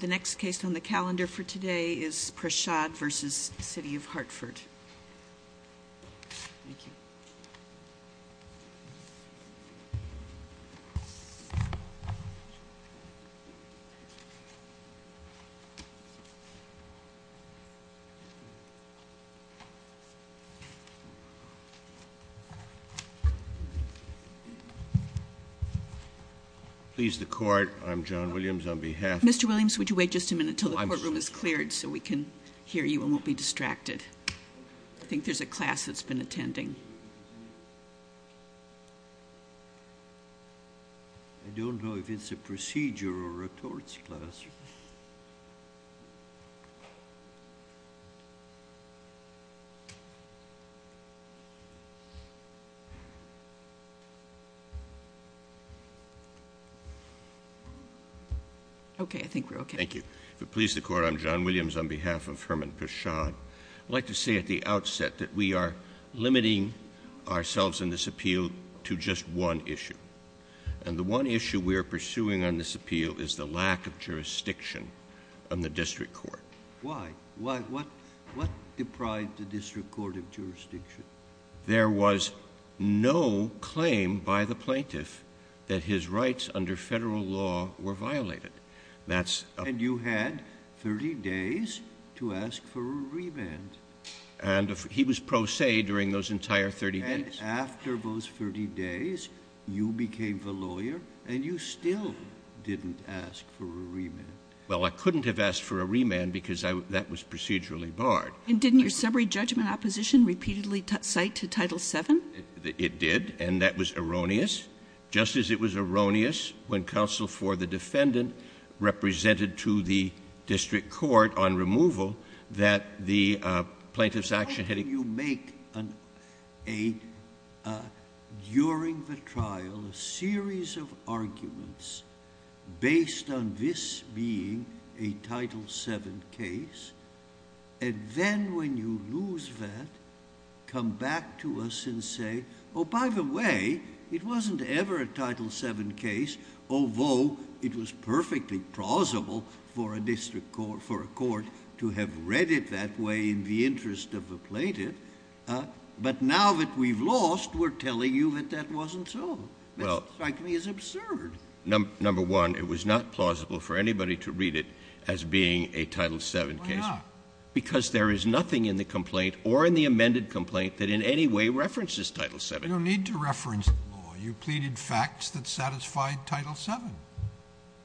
The next case on the calendar for today is Prashad v. City of Hartford. Mr. Williams, would you wait just a minute until the courtroom is cleared so we can hear you and we won't be distracted? I think there's a class that's been attending. I don't know if it's a procedure or a torts class. Okay, I think we're okay. Thank you. If it pleases the court, I'm John Williams on behalf of Herman Prashad. I'd like to say at the outset that we are limiting ourselves in this appeal to just one issue. And the one issue we are pursuing on this appeal is the lack of jurisdiction on the district court. Why? What deprived the district court of jurisdiction? There was no claim by the plaintiff that his rights under federal law were violated. And you had 30 days to ask for a remand. And he was pro se during those entire 30 days. And after those 30 days, you became the lawyer and you still didn't ask for a remand. Well, I couldn't have asked for a remand because that was procedurally barred. And didn't your summary judgment opposition repeatedly cite to Title VII? It did, and that was erroneous. Just as it was erroneous when counsel for the defendant represented to the district court on removal that the plaintiff's action had... Why don't you make during the trial a series of arguments based on this being a Title VII case, and then when you lose that, come back to us and say, oh, by the way, it wasn't ever a Title VII case, although it was perfectly plausible for a district court... for a court to have read it that way in the interest of the plaintiff. But now that we've lost, we're telling you that that wasn't so. Well... It strikes me as absurd. Number one, it was not plausible for anybody to read it as being a Title VII case. Why not? Because there is nothing in the complaint or in the amended complaint that in any way references Title VII. You don't need to reference the law. You pleaded facts that satisfied Title VII.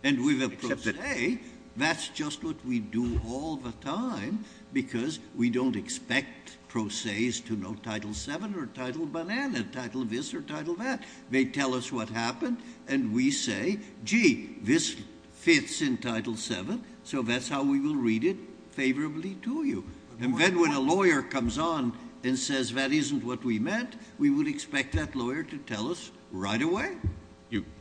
And with a pro se, that's just what we do all the time because we don't expect pro ses to know Title VII or Title Banana, Title This or Title That. They tell us what happened, and we say, gee, this fits in Title VII, so that's how we will read it favorably to you. And then when a lawyer comes on and says that isn't what we meant, we would expect that lawyer to tell us right away.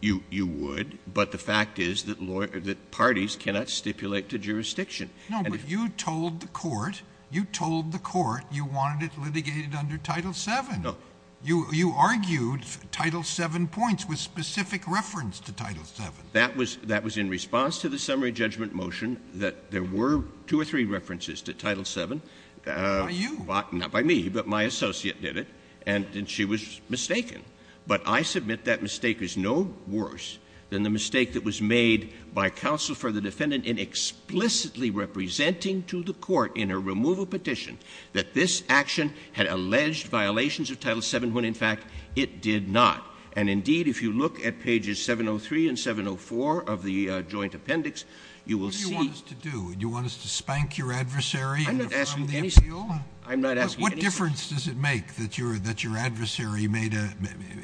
You would, but the fact is that parties cannot stipulate the jurisdiction. No, but you told the court... you told the court you wanted it litigated under Title VII. No. You argued Title VII points with specific reference to Title VII. That was in response to the summary judgment motion that there were two or three references to Title VII. By you. Not by me, but my associate did it, and she was mistaken. But I submit that mistake is no worse than the mistake that was made by counsel for the defendant in explicitly representing to the court in a removal petition that this action had alleged violations of Title VII when, in fact, it did not. And, indeed, if you look at pages 703 and 704 of the joint appendix, you will see... What do you want us to do? Do you want us to spank your adversary from the appeal? I'm not asking anything. I'm not asking anything. What difference does it make that your adversary made a...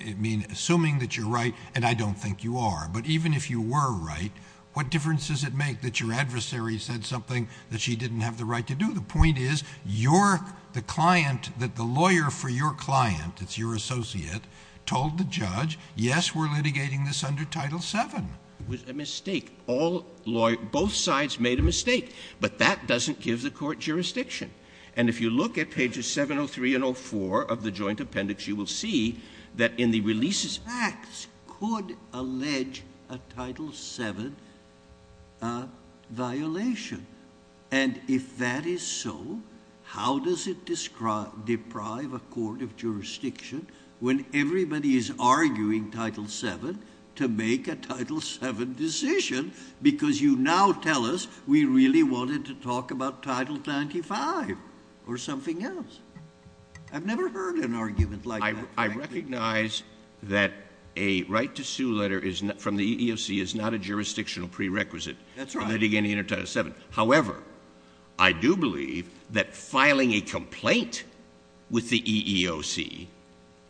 I mean, assuming that you're right, and I don't think you are. But, even if you were right, what difference does it make that your adversary said something that she didn't have the right to do? The point is, your... the client... that the lawyer for your client, that's your associate, told the judge, yes, we're litigating this under Title VII. It was a mistake. Both sides made a mistake, but that doesn't give the court jurisdiction. And, if you look at pages 703 and 704 of the joint appendix, you will see that in the releases... Facts could allege a Title VII violation. And, if that is so, how does it deprive a court of jurisdiction when everybody is arguing Title VII to make a Title VII decision? Because, you now tell us, we really wanted to talk about Title XXV or something else. I've never heard an argument like that. I recognize that a right to sue letter from the EEOC is not a jurisdictional prerequisite. That's right. Litigating under Title VII. However, I do believe that filing a complaint with the EEOC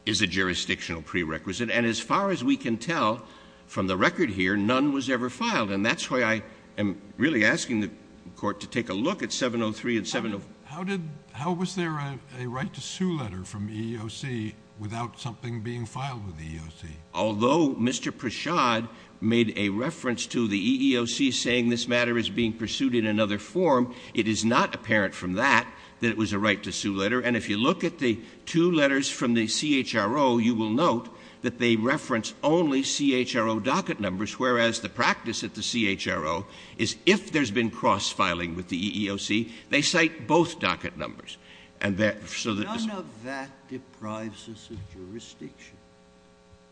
is a jurisdictional prerequisite. And, as far as we can tell from the record here, none was ever filed. And, that's why I am really asking the court to take a look at 703 and 704. How did... How was there a right to sue letter from the EEOC without something being filed with the EEOC? Although Mr. Prashad made a reference to the EEOC saying this matter is being pursued in another form, it is not apparent from that, that it was a right to sue letter. And, if you look at the two letters from the CHRO, you will note that they reference only CHRO docket numbers. Whereas, the practice at the CHRO is if there's been cross-filing with the EEOC, they cite both docket numbers. None of that deprives us of jurisdiction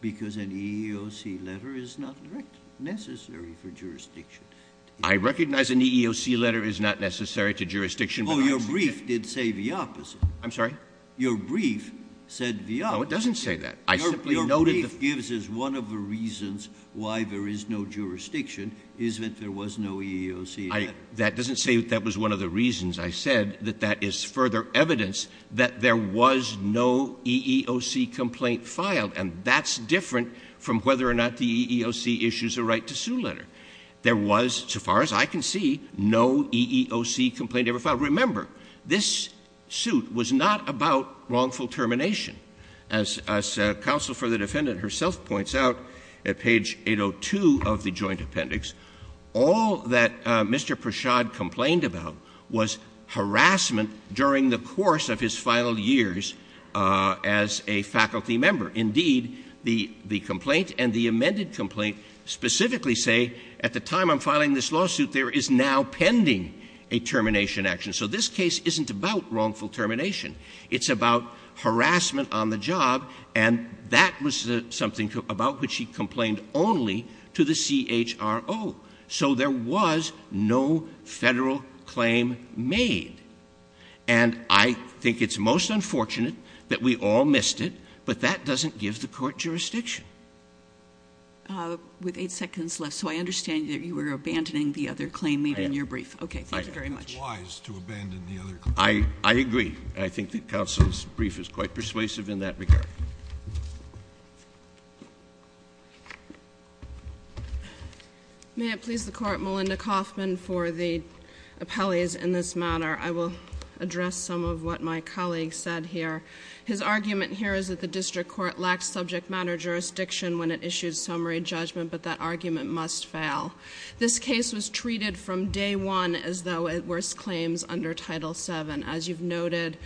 because an EEOC letter is not necessary for jurisdiction. I recognize an EEOC letter is not necessary to jurisdiction. Oh, your brief did say the opposite. I'm sorry? Your brief said the opposite. No, it doesn't say that. Your brief gives us one of the reasons why there is no jurisdiction, is that there was no EEOC letter. That doesn't say that that was one of the reasons. I said that that is further evidence that there was no EEOC complaint filed. And, that's different from whether or not the EEOC issues a right to sue letter. There was, so far as I can see, no EEOC complaint ever filed. Remember, this suit was not about wrongful termination. As counsel for the defendant herself points out at page 802 of the joint appendix, all that Mr. Prashad complained about was harassment during the course of his final years as a faculty member. Indeed, the complaint and the amended complaint specifically say, at the time I'm filing this lawsuit, there is now pending a termination action. So this case isn't about wrongful termination. It's about harassment on the job, and that was something about which he complained only to the CHRO. So there was no Federal claim made. And I think it's most unfortunate that we all missed it, but that doesn't give the court jurisdiction. With eight seconds left. So I understand that you were abandoning the other claim made in your brief. I am. Okay. Thank you very much. It's wise to abandon the other claim. I agree. I think that counsel's brief is quite persuasive in that regard. Thank you. May it please the court, Melinda Kaufman for the appellees in this matter. I will address some of what my colleague said here. His argument here is that the district court lacks subject matter jurisdiction when it issues summary judgment, but that argument must fail. This case was treated from day one as though it was claims under Title VII. As you've noted,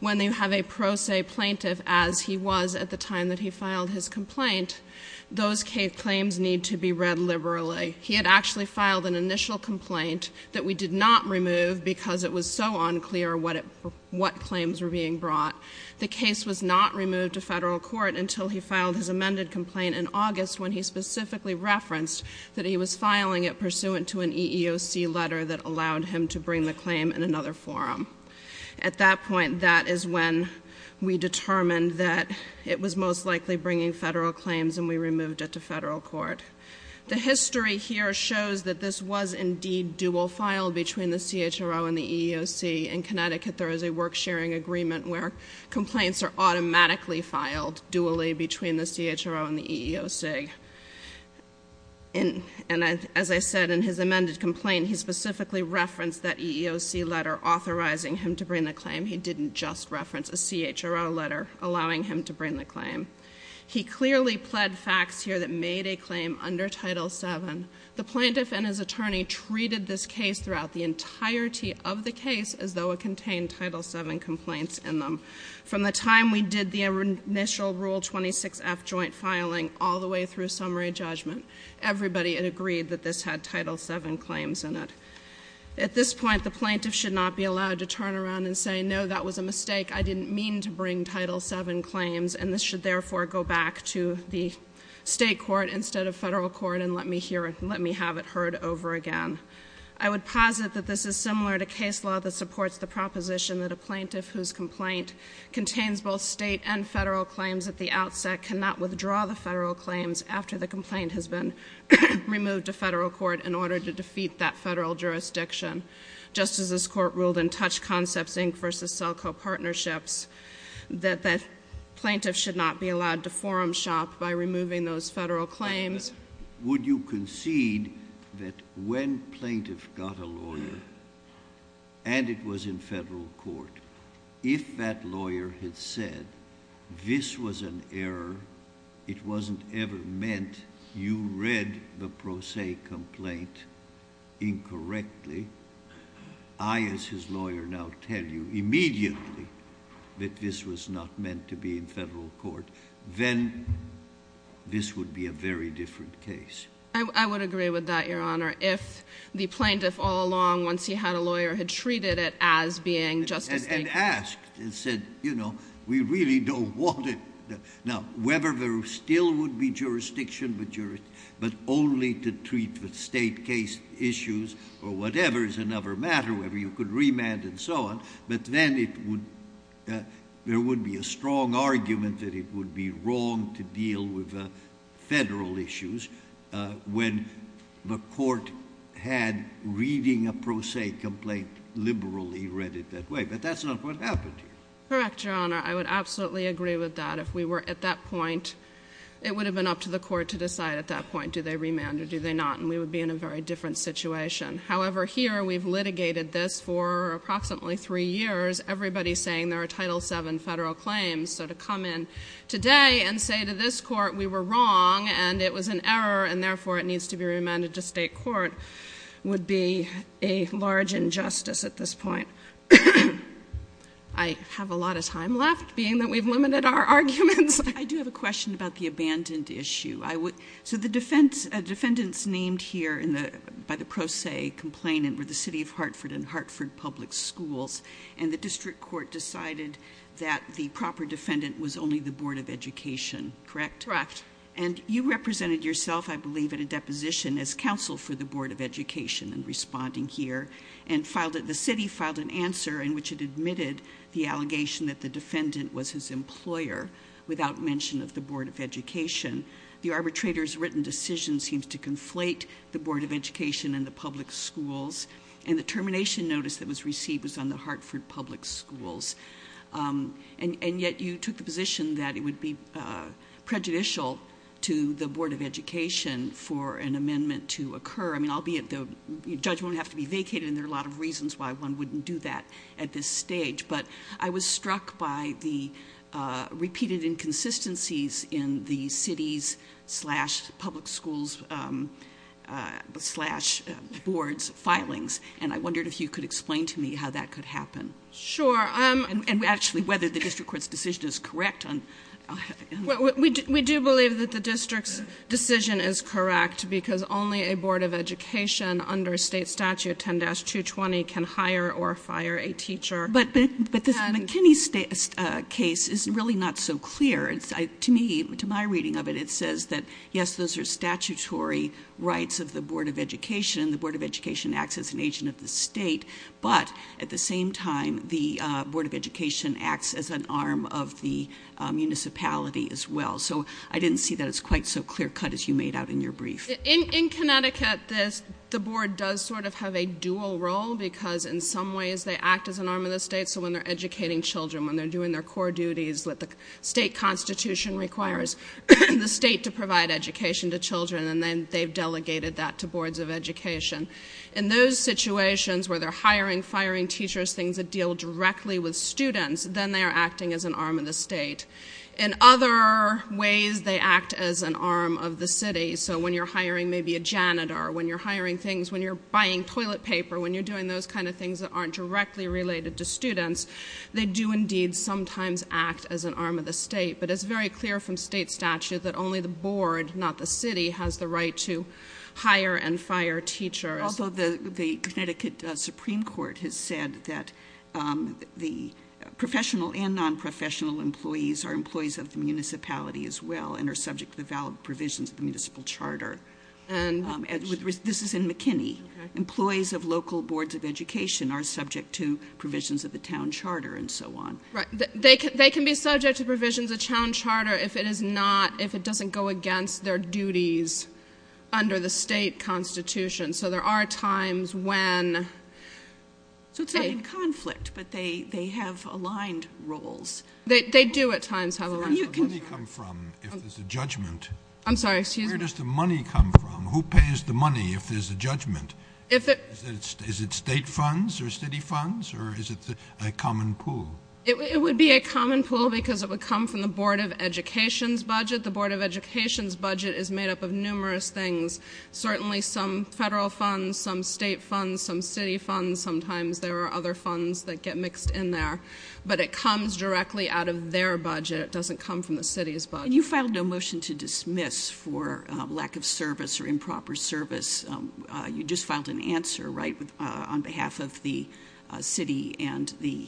when you have a pro se plaintiff as he was at the time that he filed his complaint, those claims need to be read liberally. He had actually filed an initial complaint that we did not remove because it was so unclear what claims were being brought. The case was not removed to Federal court until he filed his amended complaint in August when he specifically referenced that he was filing it pursuant to an EEOC letter that allowed him to bring the claim in another forum. At that point, that is when we determined that it was most likely bringing Federal claims and we removed it to Federal court. The history here shows that this was indeed dual filed between the CHRO and the EEOC. In Connecticut, there is a work sharing agreement where complaints are automatically filed dually between the CHRO and the EEOC. As I said, in his amended complaint, he specifically referenced that EEOC letter authorizing him to bring the claim. He didn't just reference a CHRO letter allowing him to bring the claim. He clearly pled facts here that made a claim under Title VII. The plaintiff and his attorney treated this case throughout the entirety of the case as though it contained Title VII complaints in them. From the time we did the initial Rule 26F joint filing all the way through summary judgment, everybody had agreed that this had Title VII claims in it. At this point, the plaintiff should not be allowed to turn around and say, no, that was a mistake. I didn't mean to bring Title VII claims, and this should therefore go back to the State court instead of Federal court and let me have it heard over again. I would posit that this is similar to case law that supports the proposition that a plaintiff whose complaint contains both State and Federal claims at the outset cannot withdraw the Federal claims after the complaint has been removed to Federal court in order to defeat that Federal jurisdiction. Just as this court ruled in Touch Concepts, Inc. v. Selco Partnerships, that plaintiffs should not be allowed to forum shop by removing those Federal claims. Would you concede that when plaintiff got a lawyer and it was in Federal court, if that lawyer had said this was an error, it wasn't ever meant, you read the pro se complaint incorrectly, I as his lawyer now tell you immediately that this was not meant to be in Federal court, then this would be a very different case? I would agree with that, Your Honor. If the plaintiff all along, once he had a lawyer, had treated it as being just a State case. And asked and said, you know, we really don't want it. Now, whether there still would be jurisdiction, but only to treat the State case issues or whatever is another matter, whether you could remand and so on, but then there would be a strong argument that it would be wrong to deal with Federal issues when the court had reading a pro se complaint liberally read it that way. But that's not what happened here. Correct, Your Honor. I would absolutely agree with that. If we were at that point, it would have been up to the court to decide at that point, do they remand or do they not, and we would be in a very different situation. However, here we've litigated this for approximately three years. Everybody's saying there are Title VII Federal claims, so to come in today and say to this court we were wrong and it was an error and therefore it needs to be remanded to State court would be a large injustice at this point. I have a lot of time left, being that we've limited our arguments. I do have a question about the abandoned issue. So the defendants named here by the pro se complainant were the City of Hartford and Hartford Public Schools, and the district court decided that the proper defendant was only the Board of Education, correct? Correct. And you represented yourself, I believe, at a deposition as counsel for the Board of Education in responding here and the city filed an answer in which it admitted the allegation that the defendant was his employer, without mention of the Board of Education. The arbitrator's written decision seems to conflate the Board of Education and the public schools, and the termination notice that was received was on the Hartford Public Schools. And yet you took the position that it would be prejudicial to the Board of Education for an amendment to occur. I mean, albeit the judgment would have to be vacated, and there are a lot of reasons why one wouldn't do that at this stage. But I was struck by the repeated inconsistencies in the city's slash public schools slash board's filings, and I wondered if you could explain to me how that could happen. Sure. And actually whether the district court's decision is correct. We do believe that the district's decision is correct because only a board of education under state statute 10-220 can hire or fire a teacher. But the McKinney case is really not so clear. To me, to my reading of it, it says that, yes, those are statutory rights of the Board of Education. The Board of Education acts as an agent of the state, but at the same time, the Board of Education acts as an arm of the municipality as well. So I didn't see that as quite so clear-cut as you made out in your brief. In Connecticut, the board does sort of have a dual role because in some ways they act as an arm of the state. So when they're educating children, when they're doing their core duties that the state constitution requires the state to provide education to children, and then they've delegated that to boards of education. In those situations where they're hiring, firing teachers, things that deal directly with students, then they are acting as an arm of the state. In other ways, they act as an arm of the city. So when you're hiring maybe a janitor, when you're hiring things, when you're buying toilet paper, when you're doing those kind of things that aren't directly related to students, they do indeed sometimes act as an arm of the state. But it's very clear from state statute that only the board, not the city, has the right to hire and fire teachers. Although the Connecticut Supreme Court has said that the professional and nonprofessional employees are employees of the municipality as well and are subject to the valid provisions of the municipal charter. This is in McKinney. Employees of local boards of education are subject to provisions of the town charter and so on. They can be subject to provisions of town charter if it doesn't go against their duties under the state constitution. So there are times when... So it's not in conflict, but they have aligned roles. They do at times have aligned roles. Where does the money come from if there's a judgment? I'm sorry, excuse me. Where does the money come from? Who pays the money if there's a judgment? Is it state funds or city funds or is it a common pool? It would be a common pool because it would come from the board of education's budget. The board of education's budget is made up of numerous things. Certainly some federal funds, some state funds, some city funds. Sometimes there are other funds that get mixed in there. But it comes directly out of their budget. It doesn't come from the city's budget. And you filed no motion to dismiss for lack of service or improper service. You just filed an answer, right, on behalf of the city and the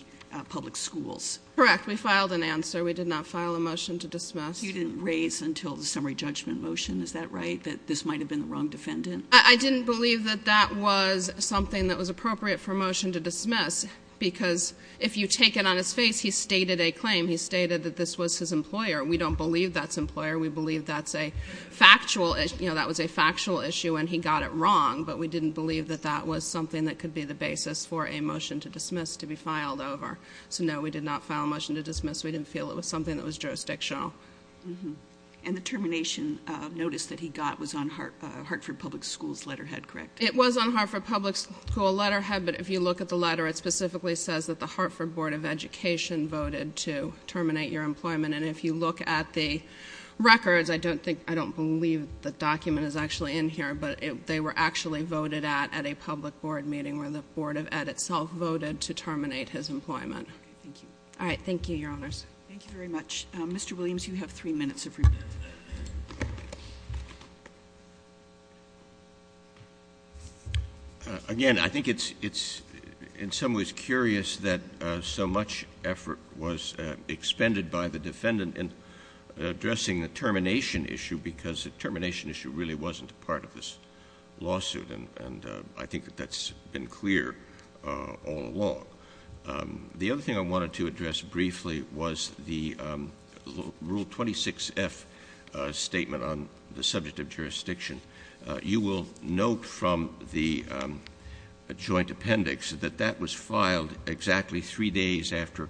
public schools. Correct. We filed an answer. We did not file a motion to dismiss. You didn't raise until the summary judgment motion. Is that right? Do you think that this might have been the wrong defendant? I didn't believe that that was something that was appropriate for a motion to dismiss because if you take it on his face, he stated a claim. He stated that this was his employer. We don't believe that's employer. We believe that's a factual issue. You know, that was a factual issue and he got it wrong. But we didn't believe that that was something that could be the basis for a motion to dismiss to be filed over. So, no, we did not file a motion to dismiss. We didn't feel it was something that was jurisdictional. And the termination notice that he got was on Hartford Public Schools letterhead, correct? It was on Hartford Public Schools letterhead. But if you look at the letter, it specifically says that the Hartford Board of Education voted to terminate your employment. And if you look at the records, I don't believe the document is actually in here, but they were actually voted at at a public board meeting where the Board of Ed itself voted to terminate his employment. All right. Thank you, Your Honors. Thank you very much. Mr. Williams, you have three minutes of rebuttal. Again, I think it's in some ways curious that so much effort was expended by the defendant in addressing the termination issue because the termination issue really wasn't part of this lawsuit. And I think that that's been clear all along. The other thing I wanted to address briefly was the Rule 26F statement on the subject of jurisdiction. You will note from the joint appendix that that was filed exactly three days after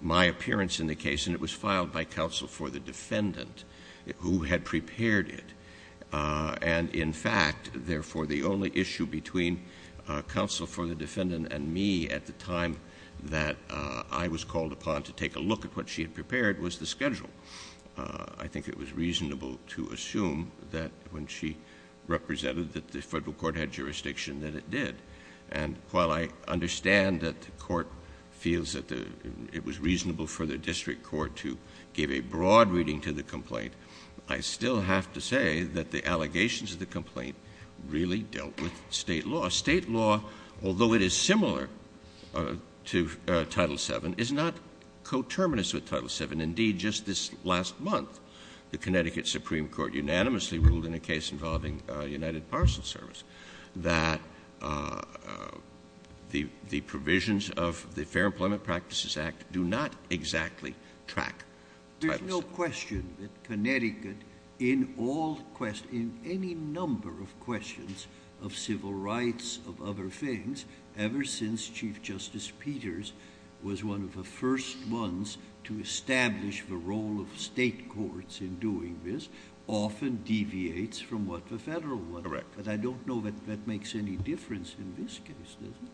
my appearance in the case, and it was filed by counsel for the defendant who had prepared it. And in fact, therefore, the only issue between counsel for the defendant and me at the time that I was called upon to take a look at what she had prepared was the schedule. I think it was reasonable to assume that when she represented that the federal court had jurisdiction that it did. And while I understand that the court feels that it was reasonable for the district court to give a broad reading to the complaint, I still have to say that the allegations of the complaint really dealt with state law. State law, although it is similar to Title VII, is not coterminous with Title VII. Indeed, just this last month, the Connecticut Supreme Court unanimously ruled in a case involving United Parcel Service that the provisions of the Fair Employment Practices Act do not exactly track Title VII. There's no question that Connecticut, in any number of questions of civil rights, of other things, ever since Chief Justice Peters was one of the first ones to establish the role of state courts in doing this, often deviates from what the federal one does. Correct. But I don't know that that makes any difference in this case, does it?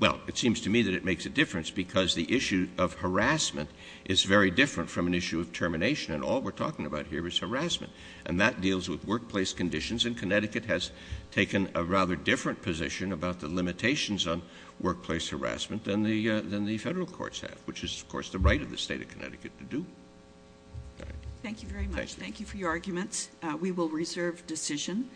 Well, it seems to me that it makes a difference because the issue of harassment is very different from an issue of termination, and all we're talking about here is harassment. And that deals with workplace conditions, and Connecticut has taken a rather different position about the limitations on workplace harassment than the federal courts have, which is, of course, the right of the state of Connecticut to do. Thank you very much. Thank you. Thank you for your arguments. We will reserve decision.